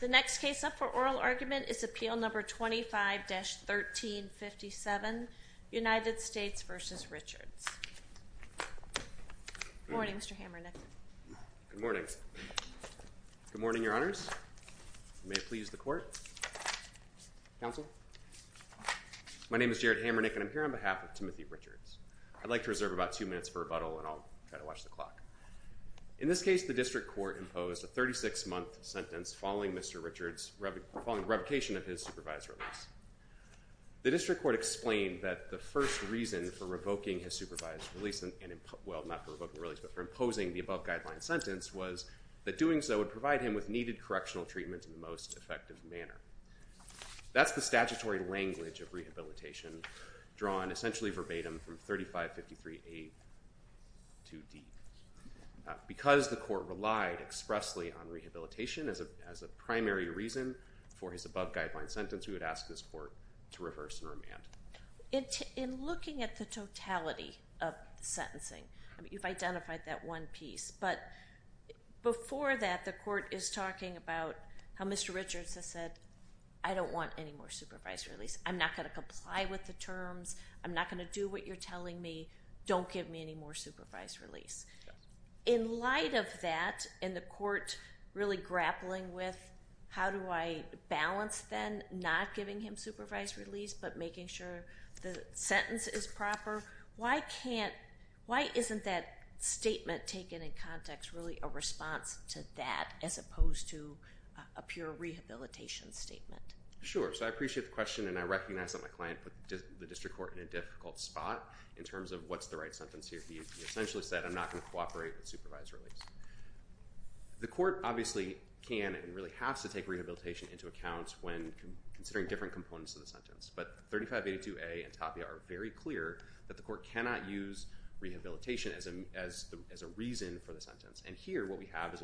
The next case up for oral argument is Appeal No. 25-1357, United States v. Richards. Good morning, Mr. Hammernick. Good morning. Good morning, Your Honors. May it please the Court. Counsel. My name is Jared Hammernick and I'm here on behalf of Timothy Richards. I'd like to reserve about two minutes for rebuttal and I'll try to watch the clock. In this case, the District Court imposed a 36-month sentence following Mr. Richards' revocation of his supervised release. The District Court explained that the first reason for revoking his supervised release and, well, not for revoking the release, but for imposing the above guideline sentence was that doing so would provide him with needed correctional treatment in the most effective manner. That's the statutory language of rehabilitation drawn essentially verbatim from 3553A to D. Because the Court relied expressly on rehabilitation as a primary reason for his above guideline sentence, we would ask this Court to reverse and remand. In looking at the totality of the sentencing, you've identified that one piece, but before that, the Court is talking about how Mr. Richards has said, I don't want any more supervised release. I'm not going to comply with the terms. I'm not going to do what you're telling me. Don't give me any more supervised release. In light of that, and the Court really grappling with how do I balance then not giving him supervised release, but making sure the sentence is proper, why can't, why isn't that statement taken in context really a response to that as opposed to a pure rehabilitation statement? Sure, so I appreciate the question and I recognize that my client put the District Court in a difficult spot in terms of what's the right sentence here. He essentially said I'm not going to cooperate with supervised release. The Court obviously can and really has to take rehabilitation into account when considering different components of the sentence, but 3582A and Tapia are very clear that the Court cannot use rehabilitation as a reason for the sentence. Here, what we have is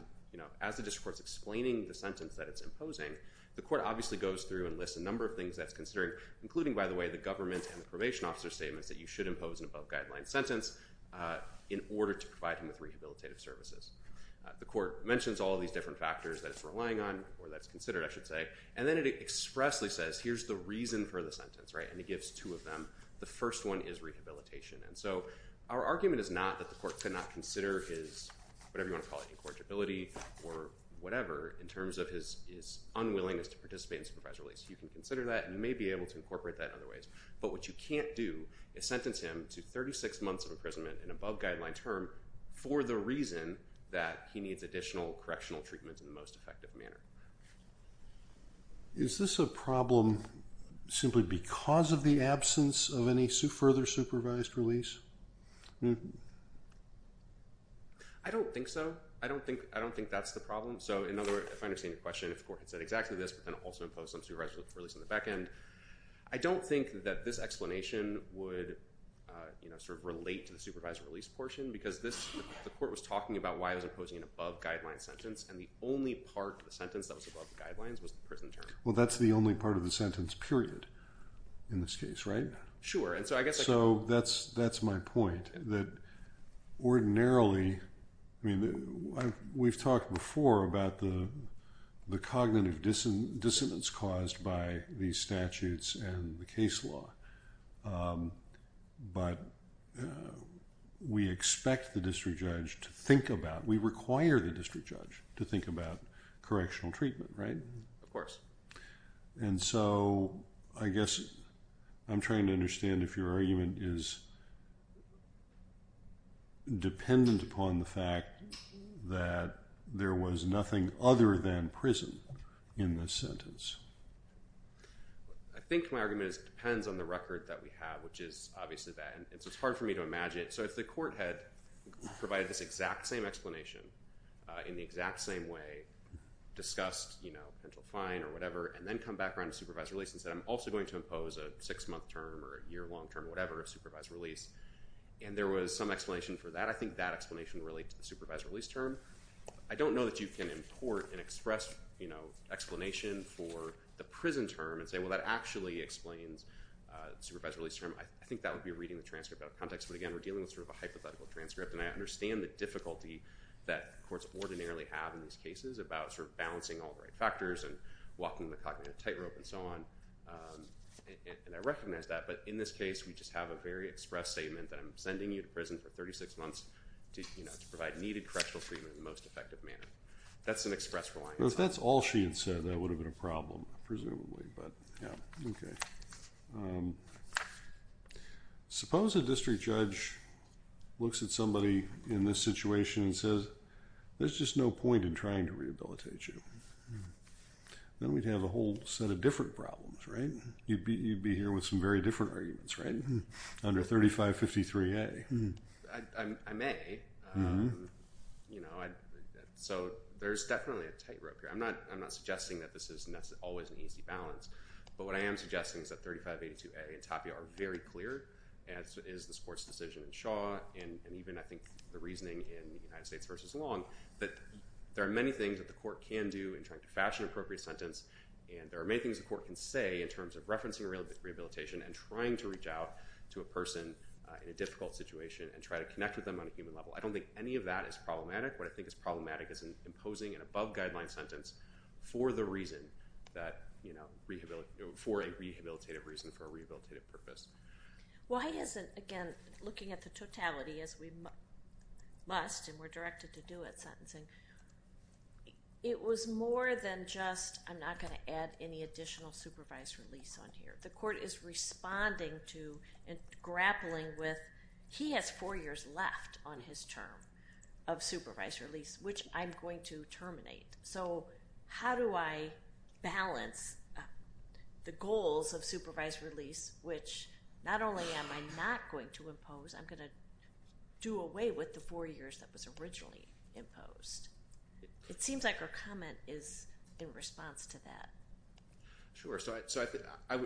as the District Court is explaining the sentence that it's imposing, the Court obviously goes through and lists a number of things that's considered, including by the way, the government and the probation officer statements that you should impose an above guideline sentence in order to provide him with rehabilitative services. The Court mentions all of these different factors that it's relying on or that's considered, I should say, and then it expressly says, here's the reason for the sentence, right? And it gives two of them. The first one is rehabilitation. And so our argument is not that the Court cannot consider his, whatever you want to call it, incorrigibility or whatever, in terms of his unwillingness to participate in supervised release. You can consider that and may be able to incorporate that in other ways. But what you can't do is sentence him to 36 months of imprisonment, an above guideline term, for the reason that he needs additional correctional treatment in the most effective manner. Is this a problem simply because of the absence of any further supervised release? Mm-hmm. I don't think so. I don't think that's the problem. So in other words, if I understand your question, if the Court had said exactly this, but then also imposed some supervised release on the back end, I don't think that this explanation would sort of relate to the supervised release portion because the Court was talking about why it was imposing an above guideline sentence and the only part of the sentence that was above the guidelines was the prison term. Well, that's the only part of the sentence, period, in this case, right? Sure. And so I guess I could— That's my point, that ordinarily—I mean, we've talked before about the cognitive dissonance caused by these statutes and the case law, but we expect the district judge to think about—we require the district judge to think about correctional treatment, right? Of course. And so I guess I'm trying to understand if your argument is dependent upon the fact that there was nothing other than prison in this sentence. I think my argument is it depends on the record that we have, which is obviously that, and so it's hard for me to imagine it. So if the Court had provided this exact same explanation, in the exact same way, discussed, you know, penal fine or whatever, and then come back around to supervised release and said, I'm also going to impose a six-month term or a year-long term, whatever, of supervised release, and there was some explanation for that, I think that explanation would relate to the supervised release term. I don't know that you can import and express, you know, explanation for the prison term and say, well, that actually explains the supervised release term. I think that would be reading the transcript out of context, but again, we're dealing with sort of a hypothetical transcript, and I understand the difficulty that courts ordinarily have in these cases about sort of balancing all the right factors and walking the cognitive tightrope and so on, and I recognize that. But in this case, we just have a very express statement that I'm sending you to prison for 36 months to, you know, to provide needed correctional treatment in the most effective manner. That's an express reliance. Well, if that's all she had said, that would have been a problem, presumably, but yeah. Okay. Um, suppose a district judge looks at somebody in this situation and says, there's just no point in trying to rehabilitate you. Then we'd have a whole set of different problems, right? You'd be here with some very different arguments, right? Under 3553A. I may. You know, so there's definitely a tightrope here. I'm not suggesting that this is always an easy balance, but what I am suggesting is that 3582A and Tapia are very clear, as is the sports decision in Shaw and even, I think, the reasoning in the United States versus Long, that there are many things that the court can do in trying to fashion an appropriate sentence, and there are many things the court can say in terms of referencing rehabilitation and trying to reach out to a person in a difficult situation and try to connect with them on a human level. I don't think any of that is problematic. What I think is problematic is imposing an above-guideline sentence for the reason that, you know, for a rehabilitative reason, for a rehabilitative purpose. Well, I guess, again, looking at the totality, as we must and were directed to do at sentencing, it was more than just, I'm not going to add any additional supervised release on here. The court is responding to and grappling with, he has four years left on his term of supervised release, which I'm going to terminate. So how do I balance the goals of supervised release, which not only am I not going to impose, I'm going to do away with the four years that was originally imposed? It seems like her comment is in response to that. So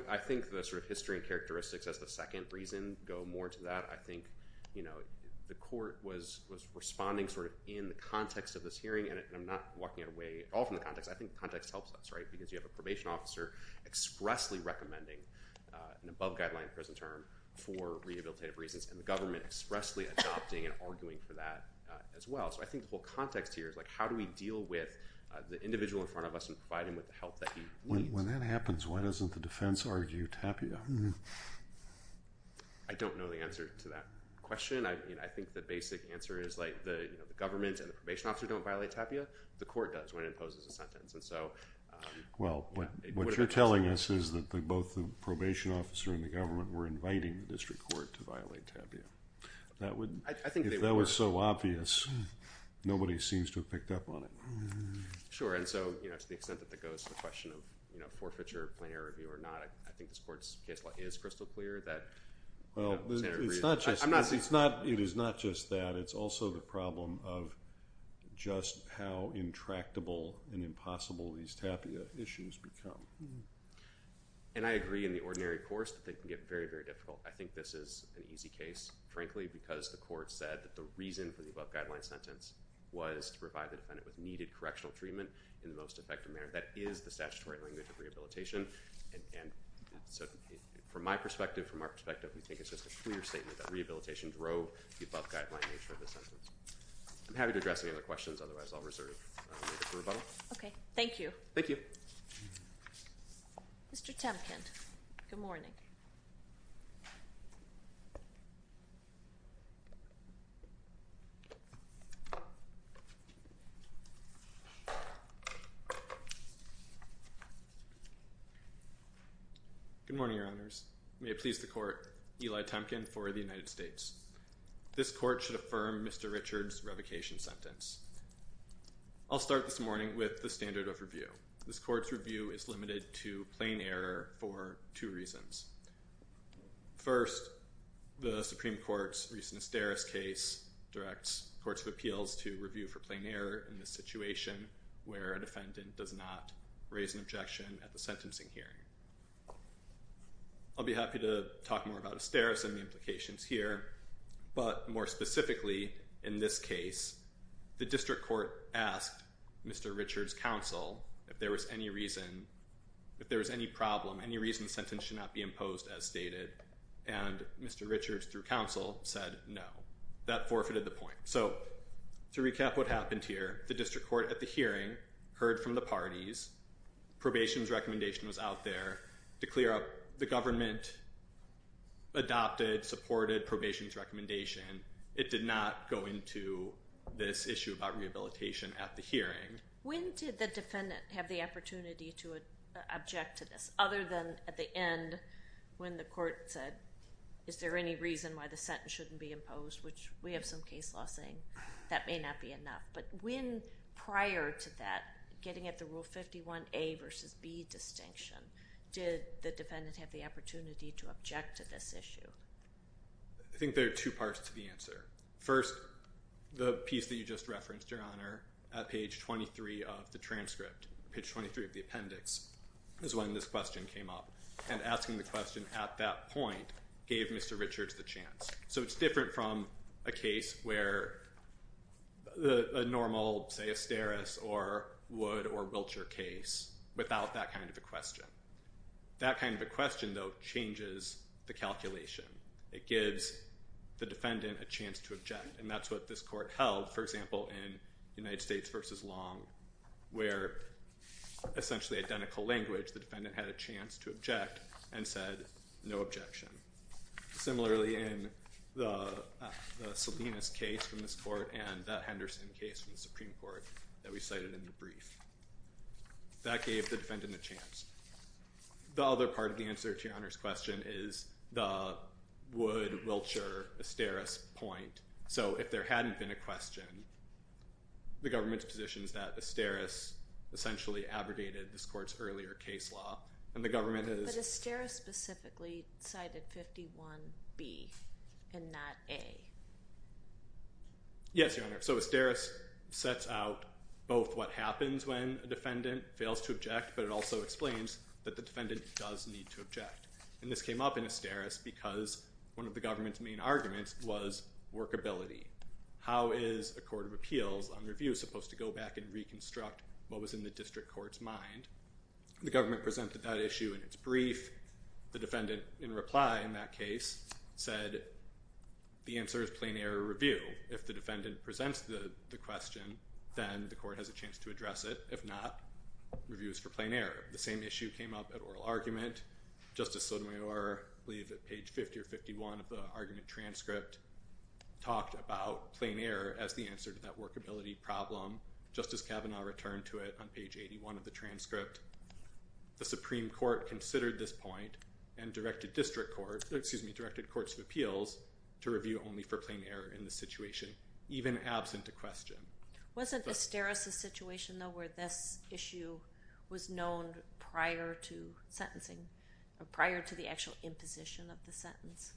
I think the sort of history and characteristics as the second reason go more to that. I think, you know, the court was responding sort of in the context of this hearing, and I'm not walking away at all from the context. I think the context helps us, right? Because you have a probation officer expressly recommending an above-guideline prison term for rehabilitative reasons and the government expressly adopting and arguing for that as well. So I think the whole context here is, like, how do we deal with the individual in front of us and provide him with the help that he needs? When that happens, why doesn't the defense argue Tapia? I don't know the answer to that question. I mean, I think the basic answer is, like, the government and the probation officer don't violate Tapia. The court does when it imposes a sentence. And so... Well, what you're telling us is that both the probation officer and the government were inviting the district court to violate Tapia. That would, if that was so obvious, nobody seems to have picked up on it. Sure. And so, you know, to the extent that that goes to the question of, you know, forfeiture, plenary review or not, I think this court's case law is crystal clear that, you know, it's an agreement. It's not just that. It's also the problem of just how intractable and impossible these Tapia issues become. And I agree in the ordinary course that they can get very, very difficult. I think this is an easy case, frankly, because the court said that the reason for the above guideline sentence was to provide the defendant with needed correctional treatment in the most effective manner. That is the statutory language of rehabilitation. And so, from my perspective, from our perspective, we think it's just a clear statement that rehabilitation drove the above guideline nature of the sentence. I'm happy to address any other questions. Otherwise, I'll reserve it for rebuttal. Okay. Thank you. Thank you. Mr. Temkent. Good morning. Good morning, Your Honors. May it please the court, Eli Temkent for the United States. This court should affirm Mr. Richard's revocation sentence. I'll start this morning with the standard of review. This court's review is limited to plain error for two reasons. First, the Supreme Court's recent Asteris case directs courts of appeals to review for error in the situation where a defendant does not raise an objection at the sentencing hearing. I'll be happy to talk more about Asteris and the implications here. But, more specifically, in this case, the district court asked Mr. Richard's counsel if there was any reason, if there was any problem, any reason the sentence should not be imposed as stated. And Mr. Richard, through counsel, said no. That forfeited the point. So, to recap what happened here, the district court at the hearing heard from the parties, probation's recommendation was out there to clear up the government adopted, supported probation's recommendation. It did not go into this issue about rehabilitation at the hearing. When did the defendant have the opportunity to object to this other than at the end when the court said, is there any reason why the sentence shouldn't be imposed, which we have some case law saying that may not be enough. But when prior to that, getting at the Rule 51A versus B distinction, did the defendant have the opportunity to object to this issue? I think there are two parts to the answer. First, the piece that you just referenced, Your Honor, at page 23 of the transcript, page 23 of the appendix, is when this question came up. And asking the question at that point gave Mr. Richard's the chance. So, it's different from a case where a normal, say, asteris or Wood or Wiltshire case without that kind of a question. That kind of a question, though, changes the calculation. It gives the defendant a chance to object. And that's what this court held, for example, in United States versus Long, where essentially identical language, the defendant had a chance to object and said no objection. Similarly, in the Salinas case from this court and the Henderson case from the Supreme Court that we cited in the brief. That gave the defendant a chance. The other part of the answer to Your Honor's question is the Wood, Wiltshire, asteris point. So, if there hadn't been a question, the government's position is that asteris essentially abrogated this court's earlier case law. And the government has- 51B and not A. Yes, Your Honor. So, asteris sets out both what happens when a defendant fails to object, but it also explains that the defendant does need to object. And this came up in asteris because one of the government's main arguments was workability. How is a court of appeals on review supposed to go back and reconstruct what was in the district court's mind? The government presented that issue in its brief. The defendant, in reply in that case, said the answer is plain error review. If the defendant presents the question, then the court has a chance to address it. If not, review is for plain error. The same issue came up at oral argument. Justice Sotomayor, I believe at page 50 or 51 of the argument transcript, talked about plain error as the answer to that workability problem. Justice Kavanaugh returned to it on page 81 of the transcript. The Supreme Court considered this point and directed district courts- excuse me, directed courts of appeals to review only for plain error in the situation, even absent a question. Wasn't asteris a situation, though, where this issue was known prior to sentencing, prior to the actual imposition of the sentence?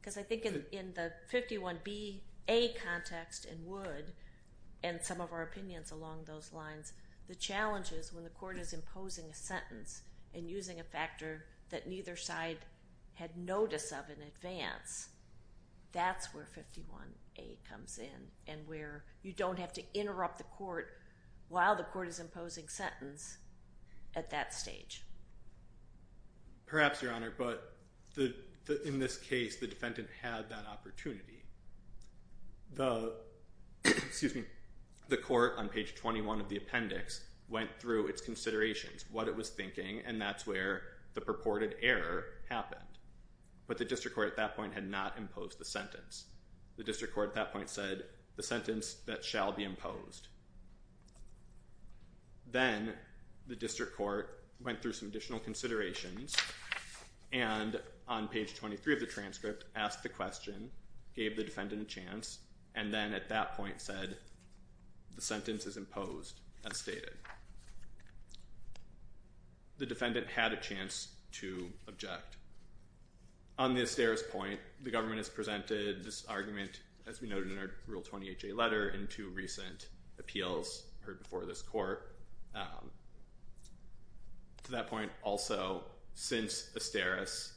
Because I think in the 51B, A context and would, and some of our opinions along those lines, the challenge is when the court is imposing a sentence and using a factor that neither side had notice of in advance, that's where 51A comes in and where you don't have to interrupt the court while the court is imposing sentence at that stage. Perhaps, Your Honor, but in this case, the defendant had that opportunity. The, excuse me, the court on page 21 of the appendix went through its considerations, what it was thinking, and that's where the purported error happened. But the district court at that point had not imposed the sentence. The district court at that point said, the sentence that shall be imposed. Then the district court went through some additional considerations and on page 23 of the appendix asked the question, gave the defendant a chance, and then at that point said, the sentence is imposed as stated. The defendant had a chance to object. On the asteris point, the government has presented this argument, as we noted in our Rule 20HA letter, in two recent appeals heard before this court. To that point, also, since asteris,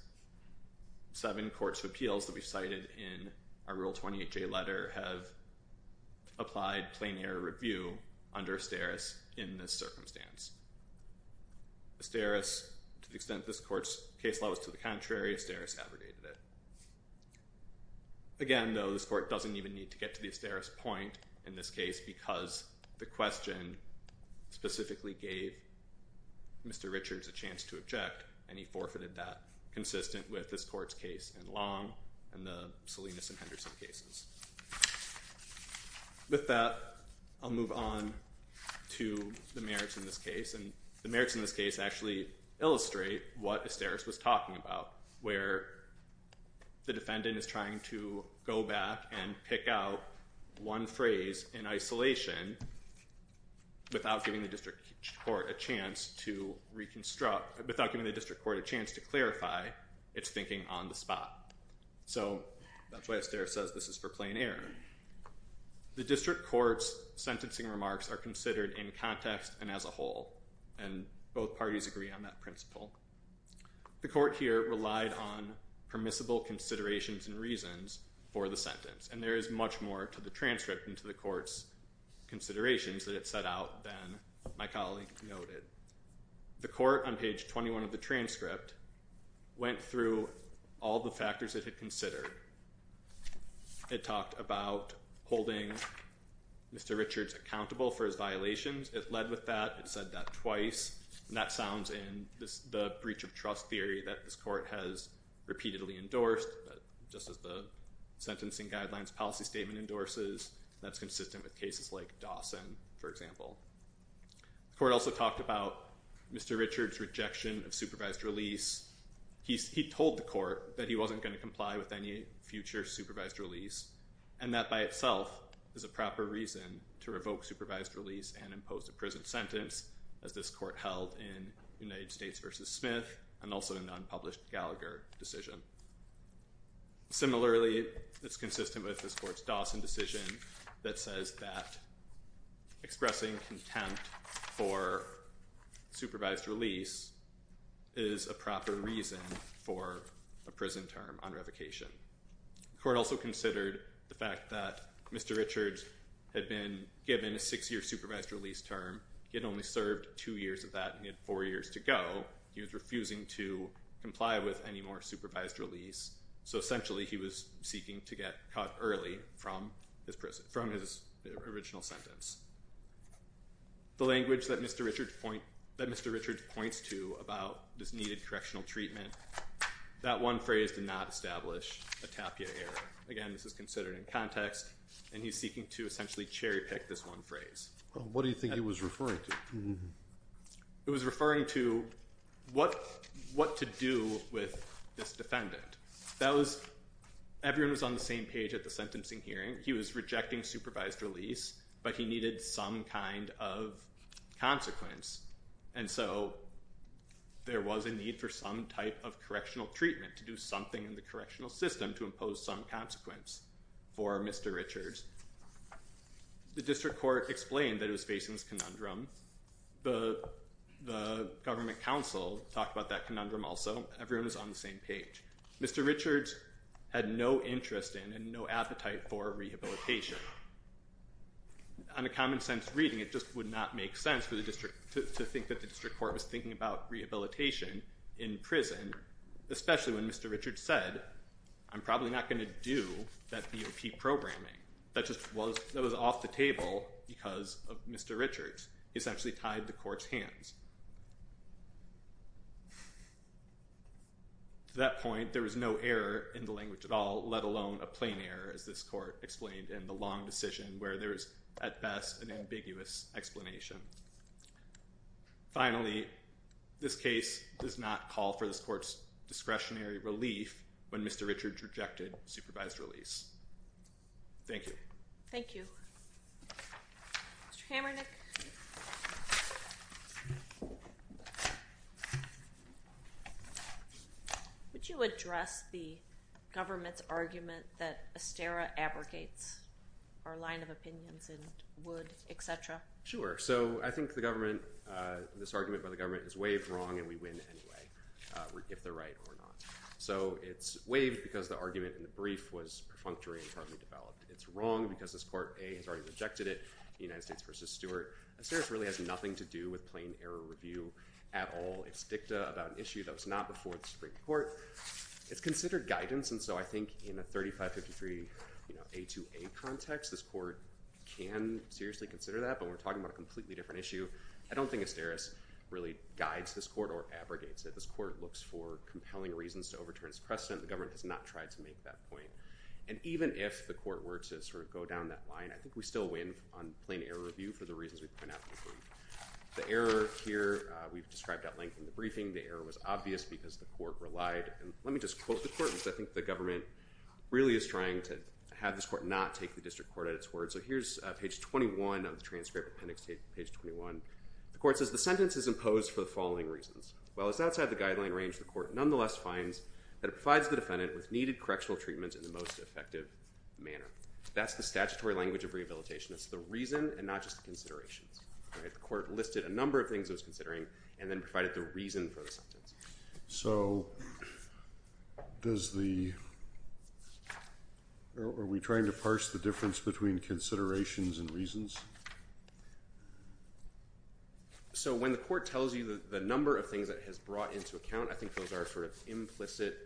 seven courts of appeals that we've cited in our Rule 20HA letter have applied plain error review under asteris in this circumstance. Asteris, to the extent this court's case law was to the contrary, asteris abrogated it. Again, though, this court doesn't even need to get to the asteris point in this case because the question specifically gave Mr. Richards a chance to object and he forfeited that, consistent with this court's case in Long and the Salinas and Henderson cases. With that, I'll move on to the merits in this case. The merits in this case actually illustrate what asteris was talking about, where the defendant is trying to go back and pick out one phrase in isolation without giving the district court a chance to reconstruct, without giving the district court a chance to clarify its thinking on the spot. So that's why asteris says this is for plain error. The district court's sentencing remarks are considered in context and as a whole, and both parties agree on that principle. The court here relied on permissible considerations and reasons for the sentence. And there is much more to the transcript and to the court's considerations that it set out than my colleague noted. The court on page 21 of the transcript went through all the factors it had considered. It talked about holding Mr. Richards accountable for his violations. It led with that. It said that twice. And that sounds in the breach of trust theory that this court has repeatedly endorsed, just as the sentencing guidelines policy statement endorses, that's consistent with cases like Dawson, for example. The court also talked about Mr. Richards' rejection of supervised release. He told the court that he wasn't going to comply with any future supervised release, and that by itself is a proper reason to revoke supervised release and impose a prison sentence, as this court held in United States v. Smith and also in an unpublished Gallagher decision. Similarly, it's consistent with this court's Dawson decision that says that expressing contempt for supervised release is a proper reason for a prison term on revocation. The court also considered the fact that Mr. Richards had been given a six-year supervised release term. He had only served two years of that, and he had four years to go. He was refusing to comply with any more supervised release. So essentially, he was seeking to get caught early from his original sentence. The language that Mr. Richards points to about this needed correctional treatment, that one phrase did not establish a tapia error. Again, this is considered in context, and he's seeking to essentially cherry-pick this one phrase. What do you think he was referring to? He was referring to what to do with this defendant. Everyone was on the same page at the sentencing hearing. He was rejecting supervised release, but he needed some kind of consequence. And so there was a need for some type of correctional treatment to do something in the correctional system to impose some consequence for Mr. Richards. The district court explained that it was facing this conundrum. The government counsel talked about that conundrum also. Everyone was on the same page. Mr. Richards had no interest in and no appetite for rehabilitation. On a common-sense reading, it just would not make sense for the district to think that the district court was thinking about rehabilitation in prison, especially when Mr. Richards said, I'm probably not going to do that DOP programming. That just was off the table because of Mr. Richards. He essentially tied the court's hands. To that point, there was no error in the language at all, let alone a plain error, as this court explained in the long decision where there is, at best, an ambiguous explanation. Finally, this case does not call for this court's discretionary relief when Mr. Richards rejected supervised release. Thank you. Thank you. Mr. Kamernick? Would you address the government's argument that Esterra abrogates our line of opinions in Wood, et cetera? Sure. I think this argument by the government is waived wrong, and we win anyway, if they're right or not. It's waived because the argument in the brief was perfunctory and hardly developed. It's wrong because this court, A, has already rejected it, the United States v. Stewart. Esterra really has nothing to do with plain error review at all. It's dicta about an issue that was not before the Supreme Court. It's considered guidance, and so I think in a 3553A2A context, this court can seriously consider that, but we're talking about a completely different issue. I don't think Esterra really guides this court or abrogates it. This court looks for compelling reasons to overturn its precedent. The government has not tried to make that point. And even if the court were to sort of go down that line, I think we still win on plain error review for the reasons we point out in the brief. The error here, we've described at length in the briefing. The error was obvious because the court relied, and let me just quote the court, because I think the government really is trying to have this court not take the district court at its word. So here's page 21 of the transcript, appendix page 21. The court says, the sentence is imposed for the following reasons. While it's outside the guideline range, the court nonetheless finds that it provides the defendant with needed correctional treatment in the most effective manner. That's the statutory language of rehabilitation. It's the reason and not just the considerations. The court listed a number of things it was considering and then provided the reason for the sentence. So are we trying to parse the difference between considerations and reasons? So when the court tells you the number of things that it has brought into account, I think those are sort of implicit,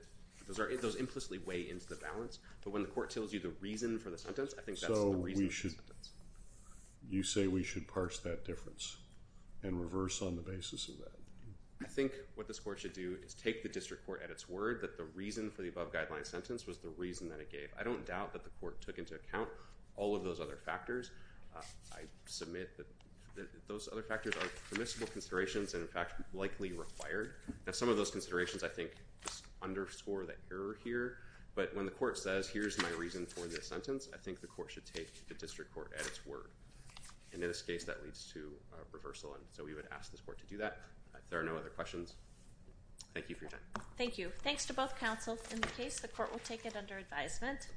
those implicitly weigh into the balance. But when the court tells you the reason for the sentence, I think that's the reason for So we should, you say we should parse that difference and reverse on the basis of that? I think what this court should do is take the district court at its word that the reason for the above guideline sentence was the reason that it gave. I don't doubt that the court took into account all of those other factors. I submit that those other factors are permissible considerations and in fact likely required. Now some of those considerations I think underscore the error here. But when the court says here's my reason for this sentence, I think the court should take the district court at its word. And in this case, that leads to reversal. And so we would ask this court to do that. There are no other questions. Thank you for your time. Thank you. Thanks to both counsels in the case. The court will take it under advisement.